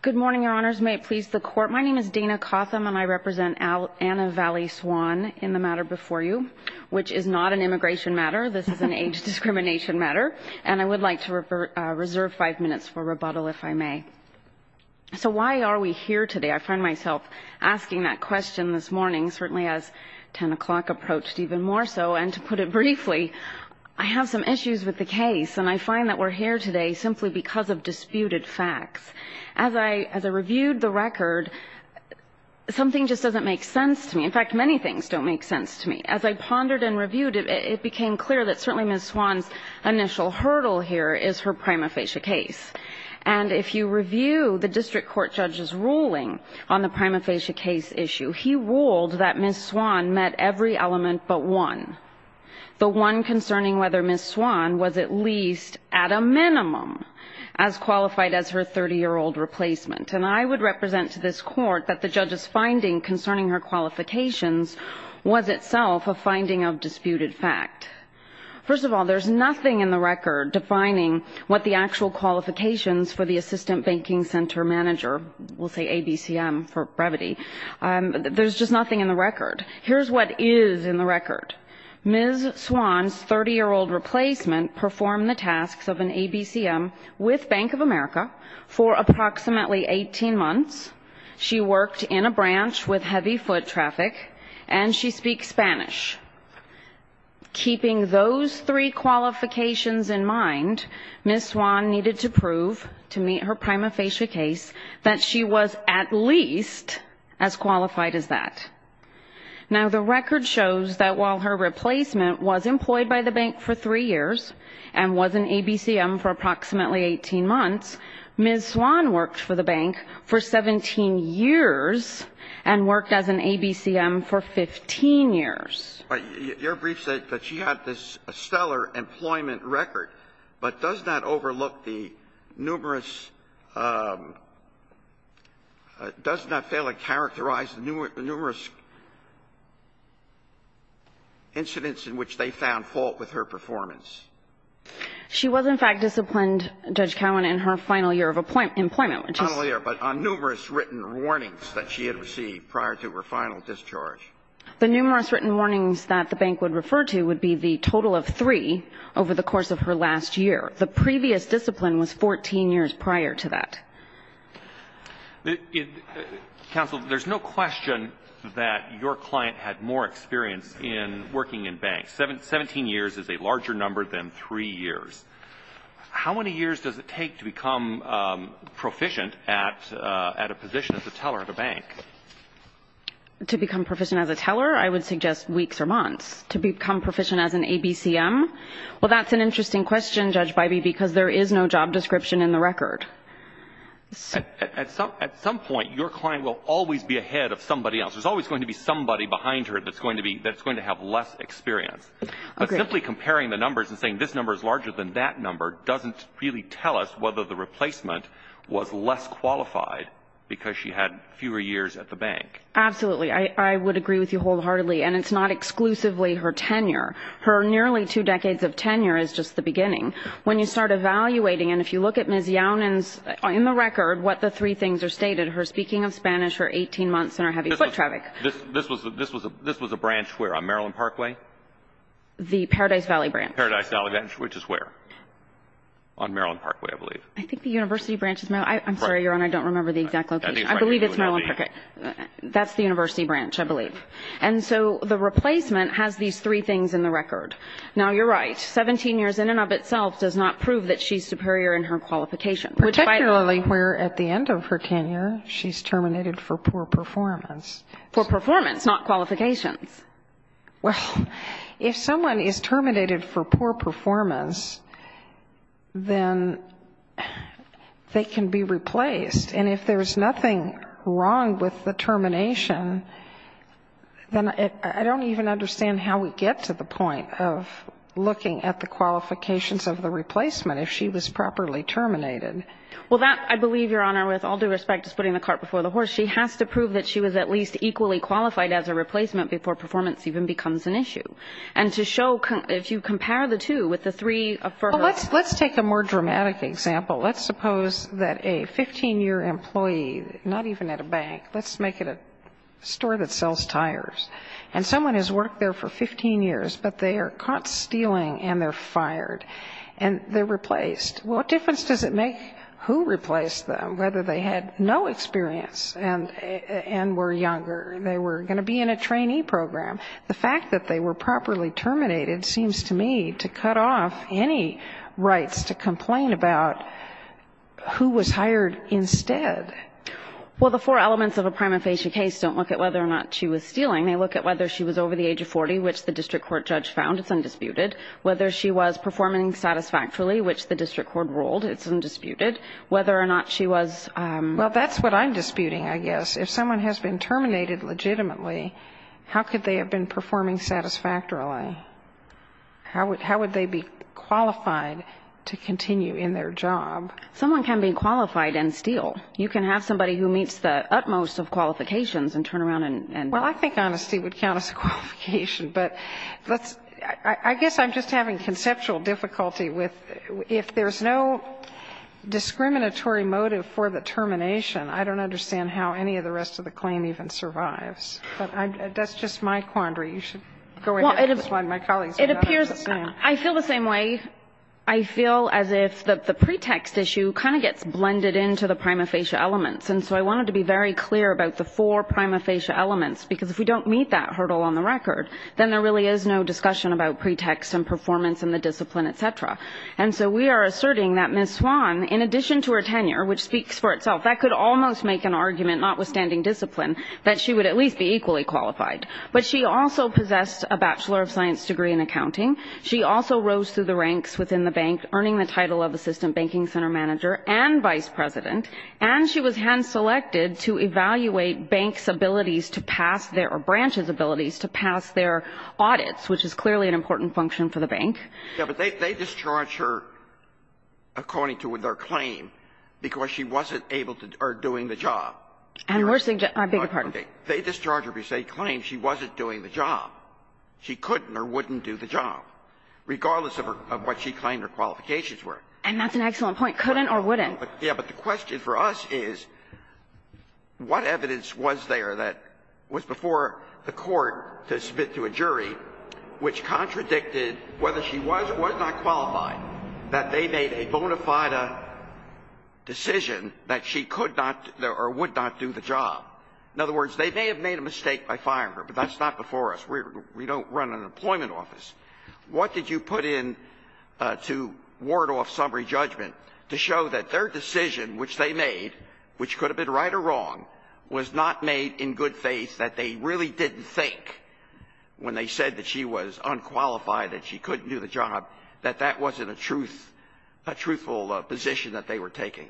Good morning, Your Honors. May it please the Court, my name is Dana Cotham, and I represent Anna Vallee Swan in the matter before you, which is not an immigration matter, this is an age discrimination matter, and I would like to reserve five minutes for rebuttal if I may. So why are we here today? I find myself asking that question this morning, certainly as 10 o'clock approached even more so, and to put it briefly, I have some issues with the case, and I find that we're here today simply because of disputed facts. As I reviewed the record, something just doesn't make sense to me. In fact, many things don't make sense to me. As I pondered and reviewed it, it became clear that certainly Ms. Swan's initial hurdle here is her prima facie case. And if you review the district court judge's ruling on the prima facie case issue, he ruled that Ms. Swan met every element but one, the one concerning whether Ms. Swan was at least at a minimum as qualified as her 30-year-old replacement. And I would represent to this court that the judge's finding concerning her qualifications was itself a finding of disputed fact. First of all, there's nothing in the record defining what the actual qualifications for the assistant banking center manager, we'll say ABCM for brevity, there's just nothing in the record. Here's what is in the record. Ms. Swan's 30-year-old replacement performed the tasks of an ABCM with Bank of America for approximately 18 months, she worked in a branch with heavy foot traffic, and she speaks Spanish. Keeping those three qualifications in mind, Ms. Swan needed to prove to meet her prima facie case that she was at least as qualified as that. Now, the record shows that while her replacement was employed by the bank for three years and was an ABCM for approximately 18 months, Ms. Swan worked for the bank for 17 years and worked as an ABCM for 15 years. Your brief said that she had this stellar employment record, but does that overlook the numerous – does that fail to characterize the numerous incidents in which they found fault with her performance? She was, in fact, disciplined, Judge Cowan, in her final year of employment, which is – Final year, but on numerous written warnings that she had received prior to her final discharge. The numerous written warnings that the bank would refer to would be the total of three over the course of her last year. The previous discipline was 14 years prior to that. Counsel, there's no question that your client had more experience in working in banks. 17 years is a larger number than three years. How many years does it take to become proficient at a position as a teller at a bank? To become proficient as a teller, I would suggest weeks or months. To become proficient as an ABCM, well, that's an interesting question, Judge Bybee, because there is no job description in the record. At some point, your client will always be ahead of somebody else. There's always going to be somebody behind her that's going to be – that's going to have less experience. But simply comparing the numbers and saying this number is larger than that number doesn't really tell us whether the replacement was less qualified because she had fewer years at the bank. Absolutely. I would agree with you wholeheartedly. And it's not exclusively her tenure. Her nearly two decades of tenure is just the beginning. When you start evaluating, and if you look at Ms. Yaunin's – in the record, what the three things are stated, her speaking of Spanish, her 18 months, and her heavy foot traffic – This was a branch where? On Maryland Parkway? The Paradise Valley branch. Paradise Valley branch, which is where? On Maryland Parkway, I believe. I think the University branch is – I'm sorry, Your Honor, I don't remember the exact location. I believe it's Maryland Parkway. That's the University branch, I believe. And so the replacement has these three things in the record. Now, you're right. 17 years in and of itself does not prove that she's superior in her qualification. Particularly where at the end of her tenure, she's terminated for poor performance. For performance, not qualifications. Well, if someone is terminated for poor performance, then they can be replaced. And if there's nothing wrong with the termination, then I don't even understand how we get to the point of looking at the qualifications of the replacement if she was properly terminated. Well, that, I believe, Your Honor, with all due respect, is putting the cart before the horse. She has to prove that she was at least equally qualified as a replacement before performance even becomes an issue. And to show – if you compare the two with the three for her – Well, let's take a more dramatic example. Let's suppose that a 15-year employee, not even at a bank, let's make it a store that sells tires. And someone has worked there for 15 years, but they are caught stealing and they're fired. And they're replaced. What difference does it make who replaced them, whether they had no experience and were younger? They were going to be in a trainee program. The fact that they were properly terminated seems to me to cut off any rights to complain about who was hired instead. Well, the four elements of a prima facie case don't look at whether or not she was stealing. They look at whether she was over the age of 40, which the district court judge found. It's undisputed. Whether she was performing satisfactorily, which the district court ruled. It's undisputed. Whether or not she was – Well, that's what I'm disputing, I guess. If someone has been terminated legitimately, how could they have been performing satisfactorily? Someone can be qualified and steal. You can have somebody who meets the utmost of qualifications and turn around and – Well, I think honesty would count as a qualification. But let's – I guess I'm just having conceptual difficulty with – if there's no discriminatory motive for the termination, I don't understand how any of the rest of the claim even survives. But that's just my quandary. You should go ahead and explain to my colleagues what I'm saying. I feel the same way. I feel as if the pretext issue kind of gets blended into the prima facie elements. And so I wanted to be very clear about the four prima facie elements, because if we don't meet that hurdle on the record, then there really is no discussion about pretext and performance in the discipline, et cetera. And so we are asserting that Ms. Swan, in addition to her tenure, which speaks for itself, that could almost make an argument, notwithstanding discipline, that she would at least be equally qualified. But she also possessed a bachelor of science degree in accounting. She also rose through the ranks within the bank, earning the title of assistant banking center manager and vice president. And she was hand-selected to evaluate banks' abilities to pass their – or branches' abilities to pass their audits, which is clearly an important function for the bank. Yeah, but they discharge her according to their claim because she wasn't able to – or doing the job. And we're – I beg your pardon. Okay. They discharge her because they claim she wasn't doing the job. She couldn't or wouldn't do the job, regardless of what she claimed her qualifications were. And that's an excellent point. Couldn't or wouldn't. Yeah, but the question for us is, what evidence was there that was before the court to submit to a jury which contradicted whether she was or was not qualified, that they made a bona fide decision that she could not or would not do the job? In other words, they may have made a mistake by firing her, but that's not before us. We don't run an employment office. What did you put in to ward off summary judgment to show that their decision, which they made, which could have been right or wrong, was not made in good faith, that they really didn't think when they said that she was unqualified and she couldn't do the job, that that wasn't a truth – a truthful position that they were taking?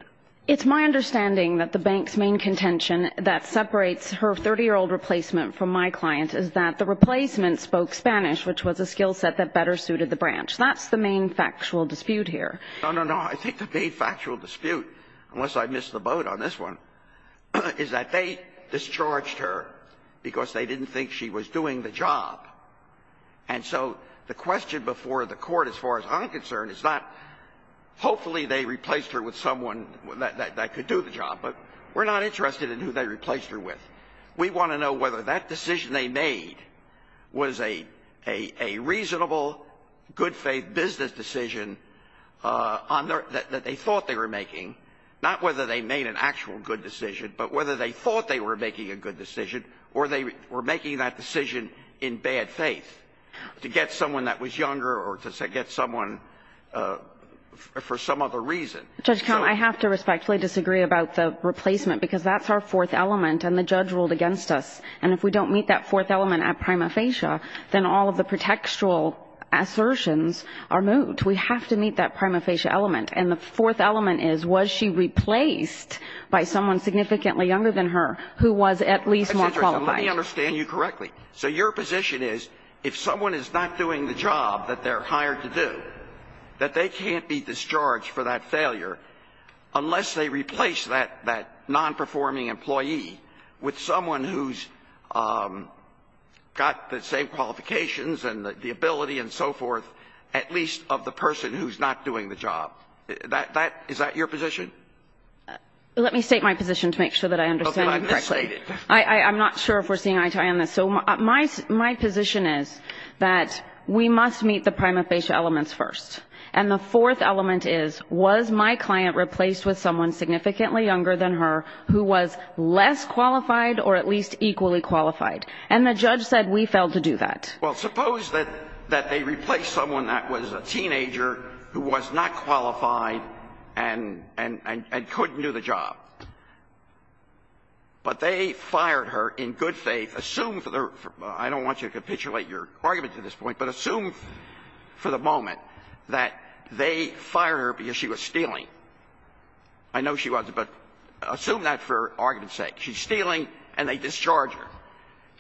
It's my understanding that the bank's main contention that separates her 30-year-old replacement from my client is that the replacement spoke Spanish, which was a skill set that better suited the branch. That's the main factual dispute here. No, no, no. I think the main factual dispute, unless I missed the boat on this one, is that they discharged her because they didn't think she was doing the job. And so the question before the court, as far as I'm concerned, is that hopefully they replaced her with someone that could do the job, but we're not interested in who they replaced her with. We want to know whether that decision they made was a reasonable, good-faith business decision on their – that they thought they were making, not whether they made an actual good decision, but whether they thought they were making a good decision or they were making that decision in bad faith to get someone that was going to do the job for a reason. Judge, I have to respectfully disagree about the replacement because that's our fourth element and the judge ruled against us. And if we don't meet that fourth element at prima facie, then all of the pretextual assertions are moved. We have to meet that prima facie element. And the fourth element is, was she replaced by someone significantly younger than her who was at least more qualified? Let me understand you correctly. So your position is, if someone is not doing the job that they're hired to do, that they can't be discharged for that failure unless they replace that non-performing employee with someone who's got the same qualifications and the ability and so forth, at least of the person who's not doing the job. Is that your position? Let me state my position to make sure that I understand you correctly. I'm not sure if we're seeing eye-to-eye on this. So my position is that we must meet the prima facie elements first. And the fourth element is, was my client replaced with someone significantly younger than her who was less qualified or at least equally qualified? And the judge said we failed to do that. Well, suppose that they replaced someone that was a teenager who was not qualified and couldn't do the job. But they fired her in good faith. Assume for the reason I don't want you to capitulate your argument at this point, but assume for the moment that they fired her because she was stealing. I know she wasn't, but assume that for argument's sake. She's stealing and they discharge her.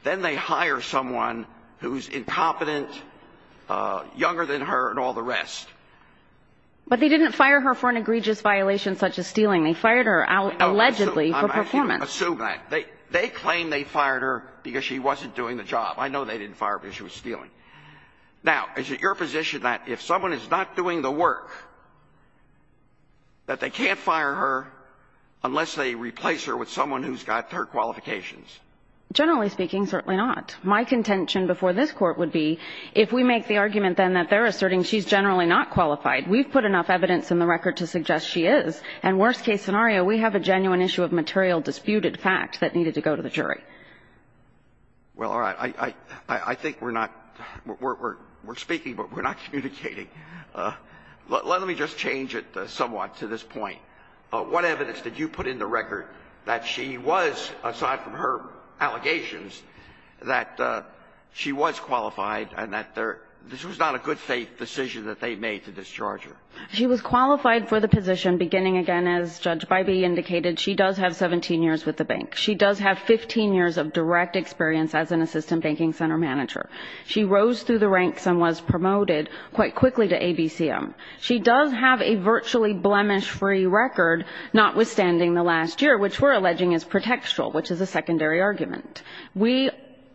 Then they hire someone who's incompetent, younger than her, and all the rest. But they didn't fire her for an egregious violation such as stealing. They fired her out allegedly for performance. I'm asking you to assume that. They claim they fired her because she wasn't doing the job. I know they didn't fire her because she was stealing. Now, is it your position that if someone is not doing the work, that they can't fire her unless they replace her with someone who's got her qualifications? Generally speaking, certainly not. My contention before this Court would be if we make the argument then that they're asserting she's generally not qualified, we've put enough evidence in the record to suggest she is, and worst-case scenario, we have a genuine issue of material disputed fact that needed to go to the jury. Well, all right. I think we're not we're speaking, but we're not communicating. Let me just change it somewhat to this point. What evidence did you put in the record that she was, aside from her allegations, that she was qualified and that this was not a good faith decision that they made to discharge her? She was qualified for the position beginning, again, as Judge Bybee indicated. She does have 17 years with the bank. She does have 15 years of direct experience as an assistant banking center manager. She rose through the ranks and was promoted quite quickly to ABCM. She does have a virtually blemish-free record, notwithstanding the last year, which we're alleging is pretextual, which is a secondary argument.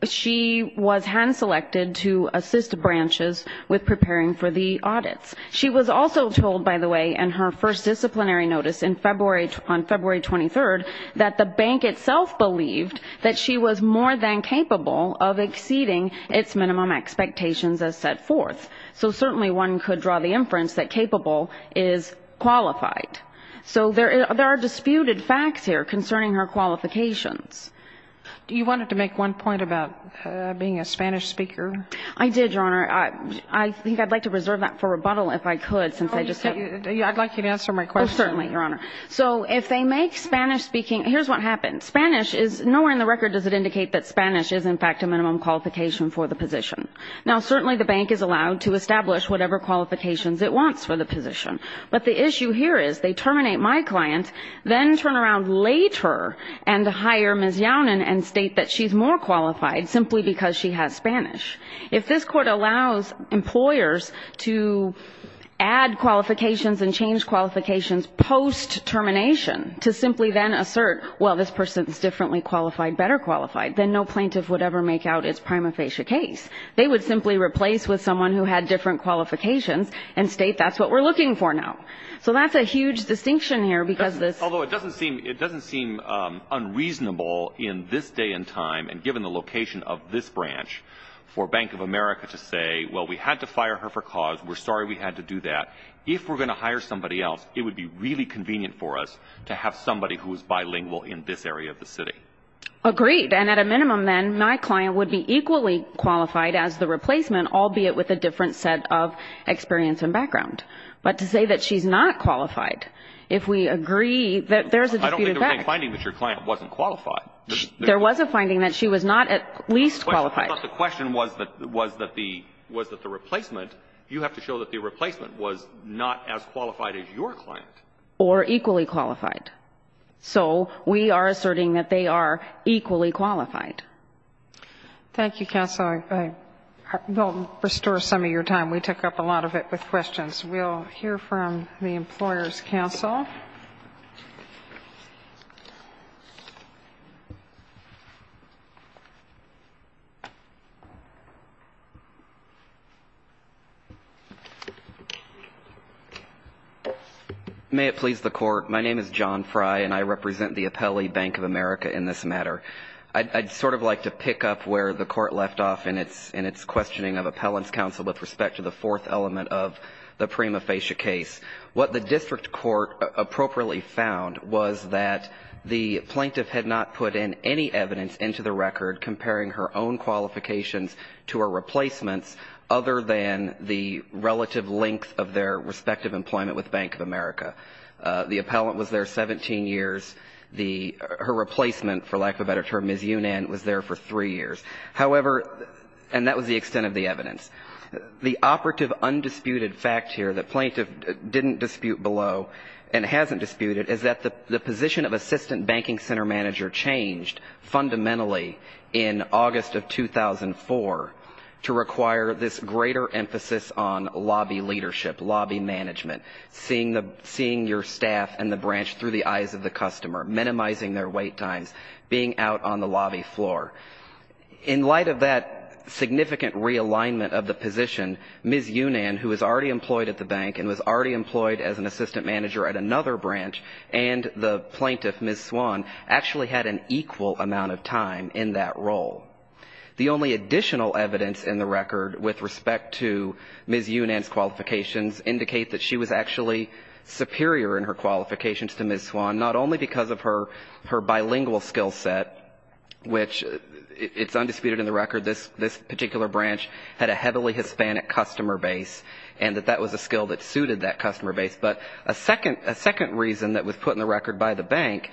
She was hand-selected to assist branches with preparing for the audits. She was also told, by the way, in her first disciplinary notice on February 23rd, that the bank itself believed that she was more than capable of exceeding its minimum expectations as set forth. So certainly one could draw the inference that capable is qualified. So there are disputed facts here concerning her qualifications. Do you want to make one point about being a Spanish speaker? I did, Your Honor. I think I'd like to reserve that for rebuttal if I could. I'd like you to answer my question. Certainly, Your Honor. So if they make Spanish speaking ñ here's what happens. Spanish is ñ nowhere in the record does it indicate that Spanish is, in fact, a minimum qualification for the position. Now, certainly the bank is allowed to establish whatever qualifications it wants for the position. But the issue here is they terminate my client, then turn around later and hire Ms. Yaunin and state that she's more qualified simply because she has Spanish. If this Court allows employers to add qualifications and change qualifications post-termination to simply then assert, well, this person is differently qualified, better qualified, then no plaintiff would ever make out its prima facie case. They would simply replace with someone who had different qualifications and state that's what we're looking for now. So that's a huge distinction here because this ñ Although it doesn't seem ñ it doesn't seem unreasonable in this day and time, and given the location of this branch, for Bank of America to say, well, we had to fire her for cause, we're sorry we had to do that. If we're going to hire somebody else, it would be really convenient for us to have somebody who is bilingual in this area of the city. Agreed. And at a minimum, then, my client would be equally qualified as the replacement, albeit with a different set of experience and background. But to say that she's not qualified, if we agree that there's a disputed fact ñ I don't think there was any finding that your client wasn't qualified. There was a finding that she was not at least qualified. I thought the question was that the replacement, you have to show that the replacement was not as qualified as your client. Or equally qualified. So we are asserting that they are equally qualified. Thank you, Counsel. I will restore some of your time. We took up a lot of it with questions. We'll hear from the Employers' Counsel. May it please the Court. My name is John Frye, and I represent the Appellee Bank of America in this matter. I'd sort of like to pick up where the Court left off in its questioning of Appellant's Counsel with respect to the fourth element of the prima facie case. What the district court appropriately found was that the plaintiff had not put in any evidence into the record comparing her own qualifications to her replacements other than the relative length of their respective employment with Bank of America. The appellant was there 17 years. Her replacement, for lack of a better term, Ms. Yunand, was there for three years. However, and that was the extent of the evidence, the operative undisputed fact here that plaintiff didn't dispute below and hasn't disputed is that the position of Assistant Banking Center Manager changed fundamentally in August of 2004 to require this greater emphasis on lobby leadership, lobby management, seeing your staff and the branch through the eyes of the customer, minimizing their wait times, being out on the lobby floor. In light of that significant realignment of the position, Ms. Yunand, who was already employed at the bank and was already employed as an assistant manager at another branch, and the plaintiff, Ms. Swan, actually had an equal amount of time in that role. The only additional evidence in the record with respect to Ms. Yunand's qualifications indicate that she was actually superior in her qualifications to Ms. Swan, not only because of her bilingual skill set, which it's undisputed in the record this particular branch had a heavily Hispanic customer base and that that was a skill that suited that customer base, but a second reason that was put in the record by the bank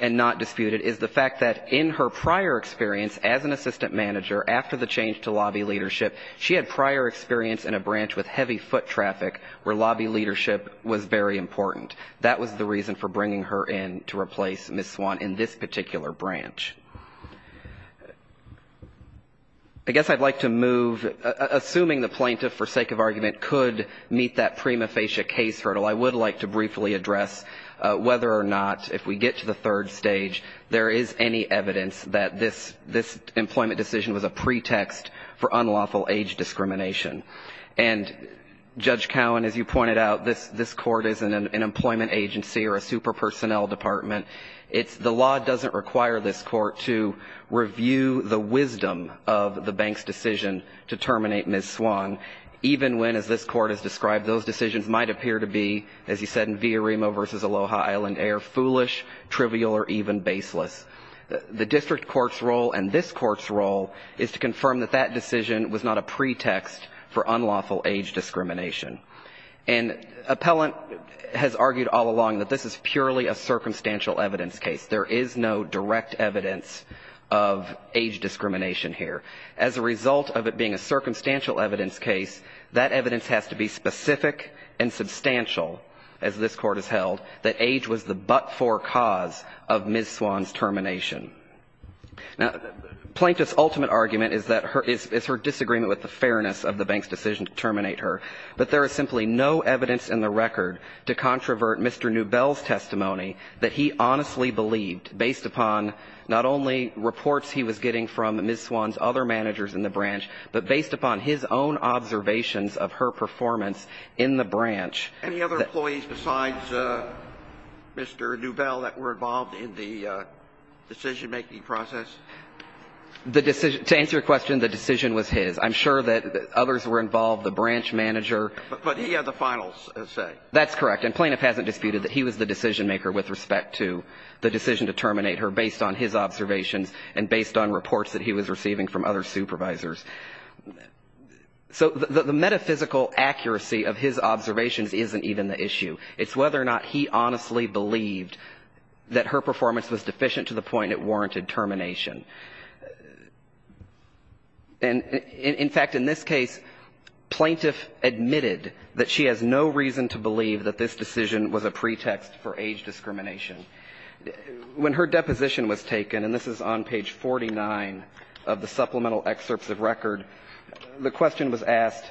and not disputed is the fact that in her prior experience as an assistant manager, after the change to lobby leadership, she had prior experience in a branch with heavy foot traffic where lobby leadership was very important. That was the reason for bringing her in to replace Ms. Swan in this particular branch. I guess I'd like to move, assuming the plaintiff, for sake of argument, could meet that prima facie case hurdle, I would like to briefly address whether or not, if we get to the third stage, there is any evidence that this employment decision was a pretext for unlawful age discrimination. And, Judge Cowan, as you pointed out, this court isn't an employment agency or a super personnel department. The law doesn't require this court to review the wisdom of the bank's decision to terminate Ms. Swan, even when, as this court has described, those decisions might appear to be, as you said, in Villaremo v. Aloha Island Air, foolish, trivial, or even baseless. The district court's role and this court's role is to confirm that that decision was not a pretext for unlawful age discrimination. And appellant has argued all along that this is purely a circumstantial evidence case. There is no direct evidence of age discrimination here. As a result of it being a circumstantial evidence case, that evidence has to be specific and substantial, as this court has held, that age was the but-for cause of Ms. Swan's termination. Now, Plaintiff's ultimate argument is her disagreement with the fairness of the bank's decision to terminate her. But there is simply no evidence in the record to controvert Mr. Newbell's testimony that he honestly believed, based upon not only reports he was getting from Ms. Swan's other managers in the branch, but based upon his own observations of her performance in the branch. Any other employees besides Mr. Newbell that were involved in the decision-making process? The decision to answer your question, the decision was his. I'm sure that others were involved, the branch manager. But he had the final say. That's correct. And Plaintiff hasn't disputed that he was the decision-maker with respect to the decision to terminate her based on his observations and based on reports that he was receiving from other supervisors. So the metaphysical accuracy of his observations isn't even the issue. It's whether or not he honestly believed that her performance was deficient to the point it warranted termination. In fact, in this case, Plaintiff admitted that she has no reason to believe that this decision was a pretext for age discrimination. When her deposition was taken, and this is on page 49 of the supplemental excerpts of record, the question was asked,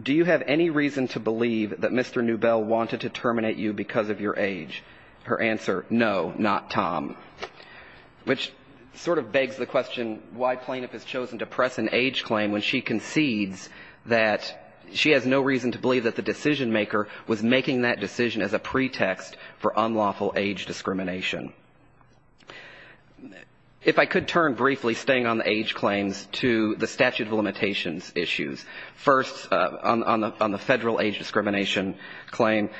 do you have any reason to believe that Mr. Newbell wanted to terminate you because of your age? Her answer, no, not Tom, which sort of begs the question why Plaintiff has chosen to press an age claim when she concedes that she has no reason to believe that the decision-maker was making that decision as a pretext for unlawful age discrimination. If I could turn briefly, staying on the age claims, to the statute of limitations issues. First, on the federal age discrimination claim,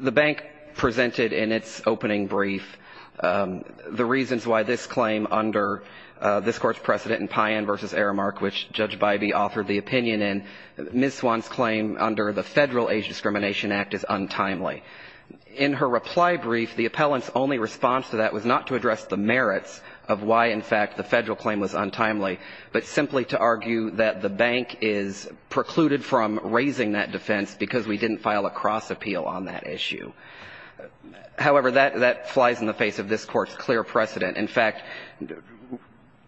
the bank presented in its opening brief the reasons why this claim under this Court's precedent in Payen v. Aramark, which Judge Bybee authored the opinion in, Ms. Swan's claim under the Federal Age Discrimination Act is untimely. In her reply brief, the appellant's only response to that was not to address the merits of why, in fact, the federal claim was untimely, but simply to argue that the bank is precluded from raising that defense because we didn't file a cross-appeal on that issue. However, that flies in the face of this Court's clear precedent. In fact,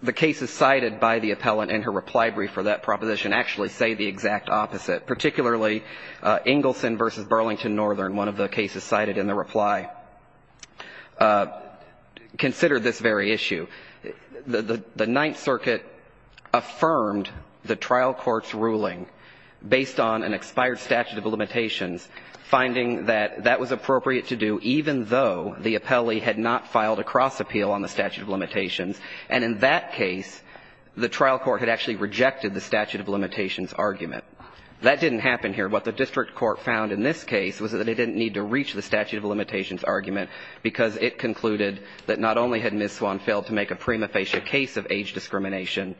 the cases cited by the appellant in her reply brief for that proposition actually say the exact opposite, particularly Ingelson v. Burlington Northern, one of the cases cited in the reply, considered this very issue. The Ninth Circuit affirmed the trial court's ruling based on an expired statute of limitations, finding that that was appropriate to do even though the appellee had not filed a cross-appeal on the statute of limitations. And in that case, the trial court had actually rejected the statute of limitations argument. That didn't happen here. What the district court found in this case was that it didn't need to reach the statute of limitations argument because it concluded that not only had Ms. Swan failed to make a prima facie case of age discrimination,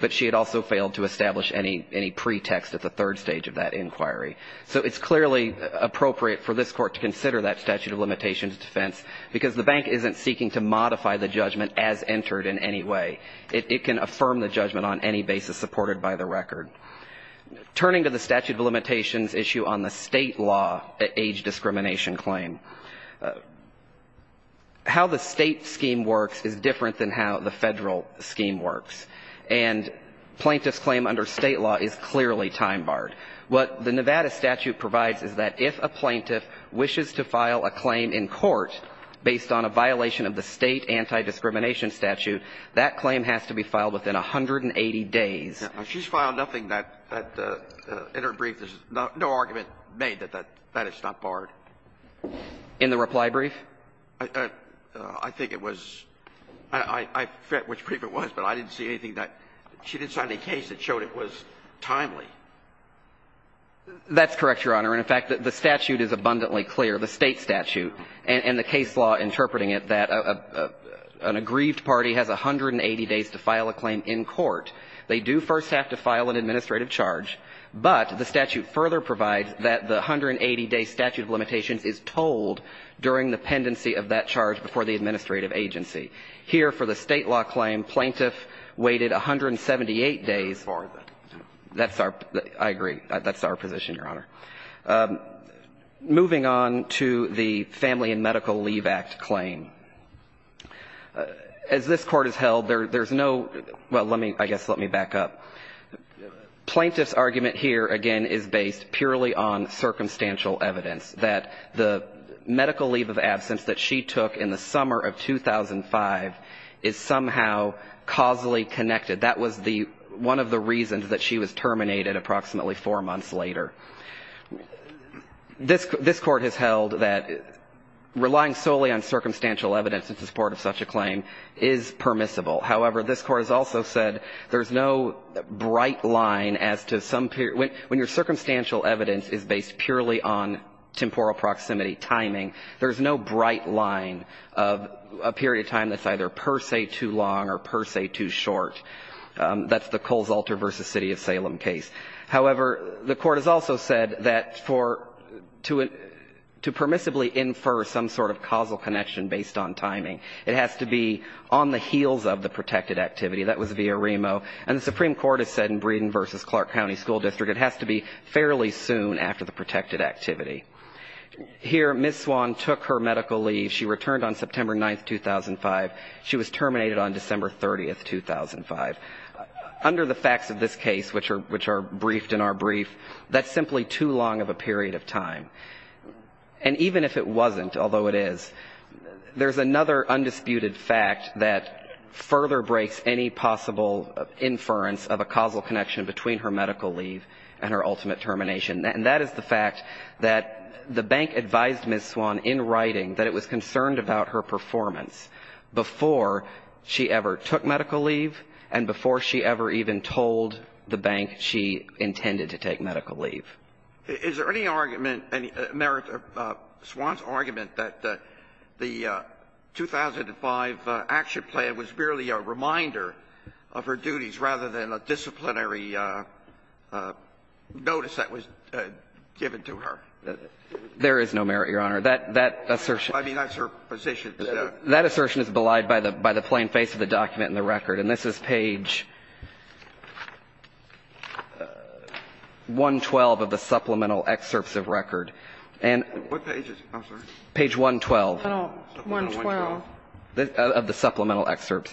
but she had also failed to establish any pretext at the third stage of that inquiry. So it's clearly appropriate for this Court to consider that statute of limitations defense because the bank isn't seeking to modify the judgment as entered in any way. It can affirm the judgment on any basis supported by the record. Turning to the statute of limitations issue on the state law age discrimination claim, how the state scheme works is different than how the federal scheme works. And plaintiff's claim under state law is clearly time-barred. What the Nevada statute provides is that if a plaintiff wishes to file a claim in court based on a violation of the state anti-discrimination statute, that claim has to be filed within 180 days. She's filed nothing that, in her brief, there's no argument made that that is not barred. In the reply brief? I think it was — I forget which brief it was, but I didn't see anything that — she didn't sign a case that showed it was timely. That's correct, Your Honor. And, in fact, the statute is abundantly clear, the state statute, and the case law interpreting it, that an aggrieved party has 180 days to file a claim in court. They do first have to file an administrative charge, but the statute further provides that the 180-day statute of limitations is told during the pendency of that charge before the administrative agency. Here, for the state law claim, plaintiff waited 178 days. That's our — I agree. That's our position, Your Honor. Moving on to the Family and Medical Leave Act claim. As this Court has held, there's no — well, let me — I guess let me back up. Plaintiff's argument here, again, is based purely on circumstantial evidence, that the medical leave of absence that she took in the summer of 2005 is somehow causally connected. That was the — one of the reasons that she was terminated approximately four months later. This Court has held that relying solely on circumstantial evidence in support of such a claim is permissible. However, this Court has also said there's no bright line as to some — when your circumstantial evidence is based purely on temporal proximity, timing, there's no bright line of a period of time that's either per se too long or per se too short. That's the Coles Alter v. City of Salem case. However, the Court has also said that for — to permissibly infer some sort of causal connection based on timing, it has to be on the heels of the protected activity. That was via Remo. And the Supreme Court has said in Breeden v. Clark County School District it has to be fairly soon after the protected activity. Here, Ms. Swan took her medical leave. She returned on September 9, 2005. She was terminated on December 30, 2005. Under the facts of this case, which are — which are briefed in our brief, that's simply too long of a period of time. And even if it wasn't, although it is, there's another undisputed fact that further breaks any possible inference of a causal connection between her medical leave and her ultimate termination, and that is the fact that the bank advised Ms. Swan in writing that it was concerned about her performance before she ever took medical leave and before she ever even told the bank she intended to take medical leave. Is there any argument — any merit of Swan's argument that the 2005 action plan was merely a reminder of her duties rather than a disciplinary notice that was given to her? There is no merit, Your Honor. That — that assertion — I mean, that's her position. That assertion is belied by the plain face of the document and the record. And this is page 112 of the supplemental excerpts of record. And — What page is it, Counselor? Page 112 of the supplemental excerpts.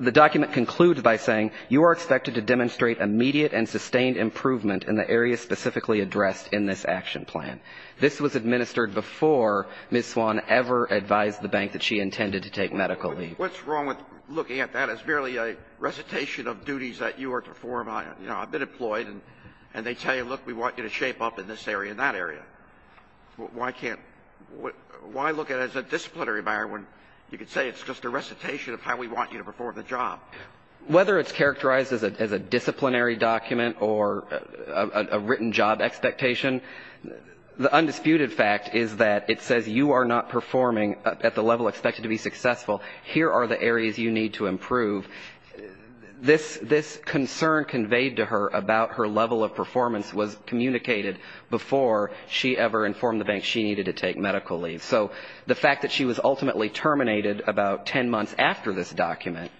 The document concludes by saying, What's wrong with looking at that as merely a recitation of duties that you are to perform? You know, I've been employed, and they tell you, look, we want you to shape up in this area and that area. Why can't — why look at it as a disciplinary matter when you could say it's just a recitation of how we want you to perform the job? Whether it's characterized as a disciplinary document or a written job expectation, the undisputed fact is that it says you are not performing at the level expected to be successful. Here are the areas you need to improve. This — this concern conveyed to her about her level of performance was communicated before she ever informed the bank she needed to take medical leave. So the fact that she was ultimately terminated about 10 months after this document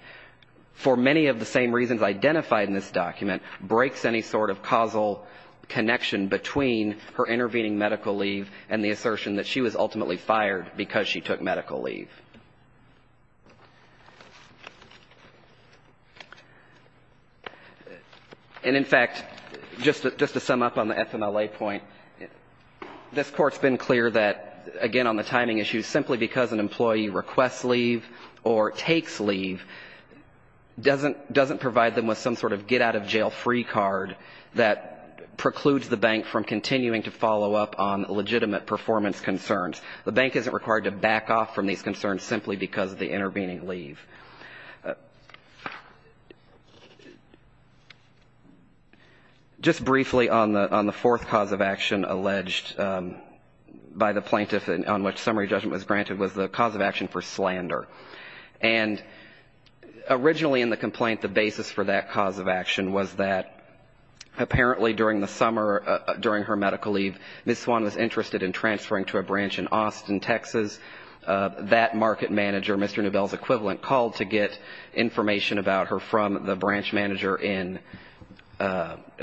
— for many of the same reasons identified in this document — breaks any sort of causal connection between her intervening medical leave and the assertion that she was ultimately fired because she took medical leave. And, in fact, just to sum up on the FMLA point, this Court's been clear that, again, on the timing issue, simply because an employee requests leave or takes leave doesn't — doesn't provide them with some sort of get-out-of-jail-free card that precludes the bank from continuing to follow up on legitimate performance concerns. The bank isn't required to back off from these concerns simply because of the intervening leave. Just briefly on the — on the fourth cause of action alleged by the plaintiff on which summary judgment was granted was the cause of action for slander. And originally in the complaint, the basis for that cause of action was that apparently during the summer — during her medical leave, Ms. Swan was interested in transferring to a branch in Austin, Texas. That market manager, Mr. Neubel's equivalent, called to get information about her from the branch manager in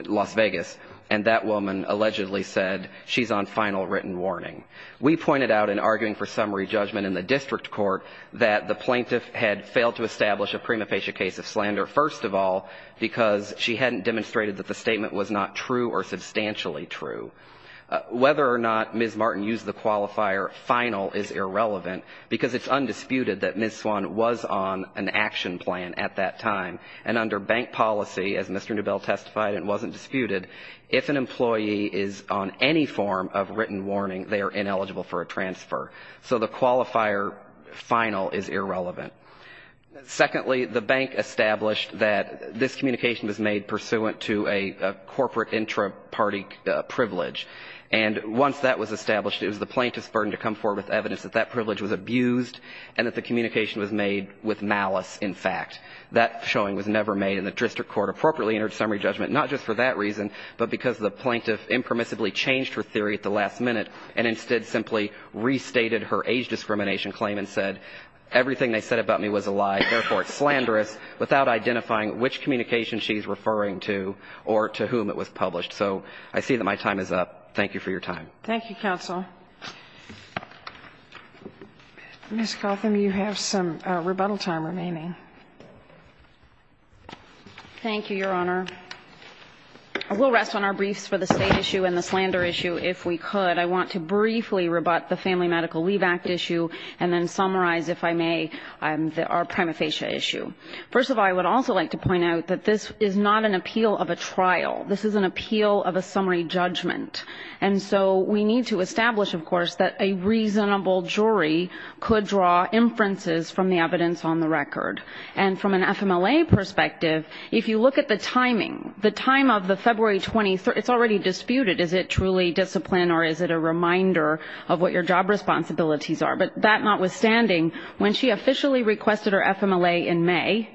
Las Vegas, and that woman allegedly said, she's on final written warning. We pointed out in arguing for summary judgment in the district court that the plaintiff had failed to establish a prima facie case of slander, first of all, because she hadn't demonstrated that the statement was not true or substantially true. Whether or not Ms. Martin used the qualifier final is irrelevant, because it's undisputed that Ms. Swan was on an action plan at that time, and under bank policy, as Mr. Neubel testified and wasn't disputed, if an employee is on any form of written warning, they are ineligible for a transfer. So the qualifier final is irrelevant. Secondly, the bank established that this communication was made pursuant to a corporate intra-party privilege. And once that was established, it was the plaintiff's burden to come forward with evidence that that privilege was abused and that the communication was made with malice, in fact. That showing was never made, and the district court appropriately entered summary judgment, not just for that reason, but for that reason. And Ms. Martin did simply restated her age discrimination claim and said everything they said about me was a lie, therefore, it's slanderous, without identifying which communication she's referring to or to whom it was published. So I see that my time is up. Thank you for your time. Thank you, counsel. Ms. Gotham, you have some rebuttal time remaining. Thank you, Your Honor. I will rest on our briefs for the state issue and the slander issue, if we could. I want to briefly rebut the Family Medical Leave Act issue, and then summarize, if I may, our prima facie issue. First of all, I would also like to point out that this is not an appeal of a trial. This is an appeal of a summary judgment. And so we need to establish, of course, that a reasonable jury could draw inferences from the evidence on the record. And from an FMLA perspective, if you look at the timing, the time of the February 23rd, it's already disputed. Is it truly discipline, or is it a reminder of what your job responsibilities are? But that notwithstanding, when she officially requested her FMLA in May,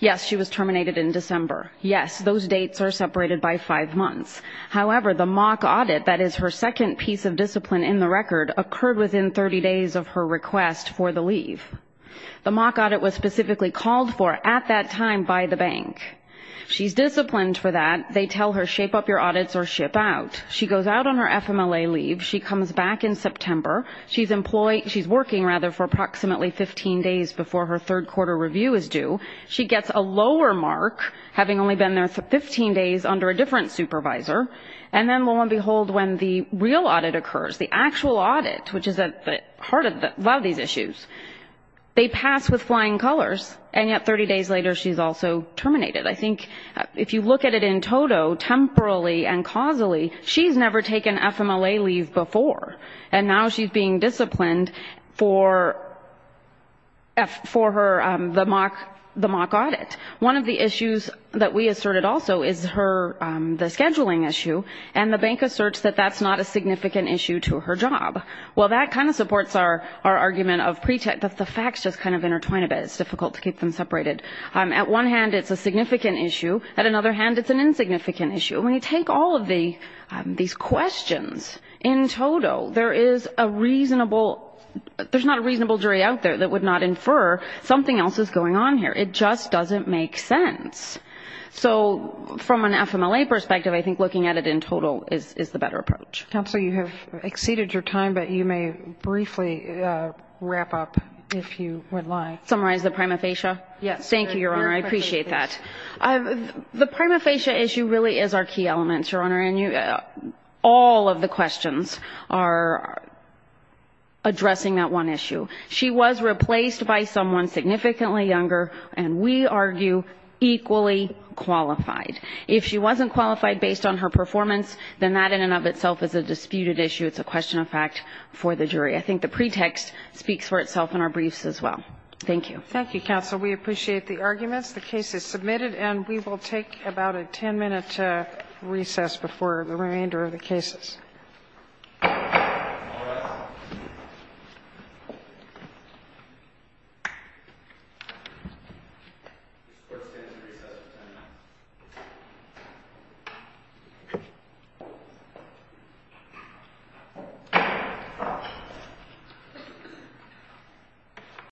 yes, she was terminated in December. Yes, those dates are separated by five months. However, the mock audit, that is her second piece of discipline in the record, occurred within 30 days of her request for the leave. The mock audit was specifically called for at that time by the bank. She's disciplined for that. They tell her, shape up your audits or ship out. She goes out on her FMLA leave. She comes back in September. She's employed, she's working, rather, for approximately 15 days before her third quarter review is due. She gets a lower mark, having only been there for 15 days under a different supervisor. And then, lo and behold, when the real audit occurs, the actual audit, which is at the heart of the level of these issues, they pass with flying colors, and yet 30 days later she's also terminated. I think if you look at it in total, temporally and causally, she's never taken FMLA leave before, and now she's being disciplined for her, the mock audit. One of the issues that we asserted also is her, the scheduling issue, and the bank asserts that that's not a significant issue to her job. Well, that kind of supports our argument of pretext, that the facts just kind of intertwine a bit. It's difficult to keep them separated. At one hand, it's a significant issue. At another hand, it's an insignificant issue. And when you take all of these questions in total, there is a reasonable, there's not a reasonable jury out there that would not infer something else is going on here. It just doesn't make sense. So from an FMLA perspective, I think looking at it in total is the better approach. Counsel, you have exceeded your time, but you may briefly wrap up if you would like. Summarize the prima facie? Yes. Thank you, Your Honor. I appreciate that. The prima facie issue really is our key element, Your Honor, and all of the questions are addressing that one issue. She was replaced by someone significantly younger, and we argue equally qualified. If she wasn't qualified based on her performance, then that in and of itself is a disputed issue. It's a question of fact for the jury. I think the pretext speaks for itself in our briefs as well. Thank you. Thank you, counsel. We appreciate the arguments. The case is submitted, and we will take about a 10-minute recess before the remainder of the cases. Thank you.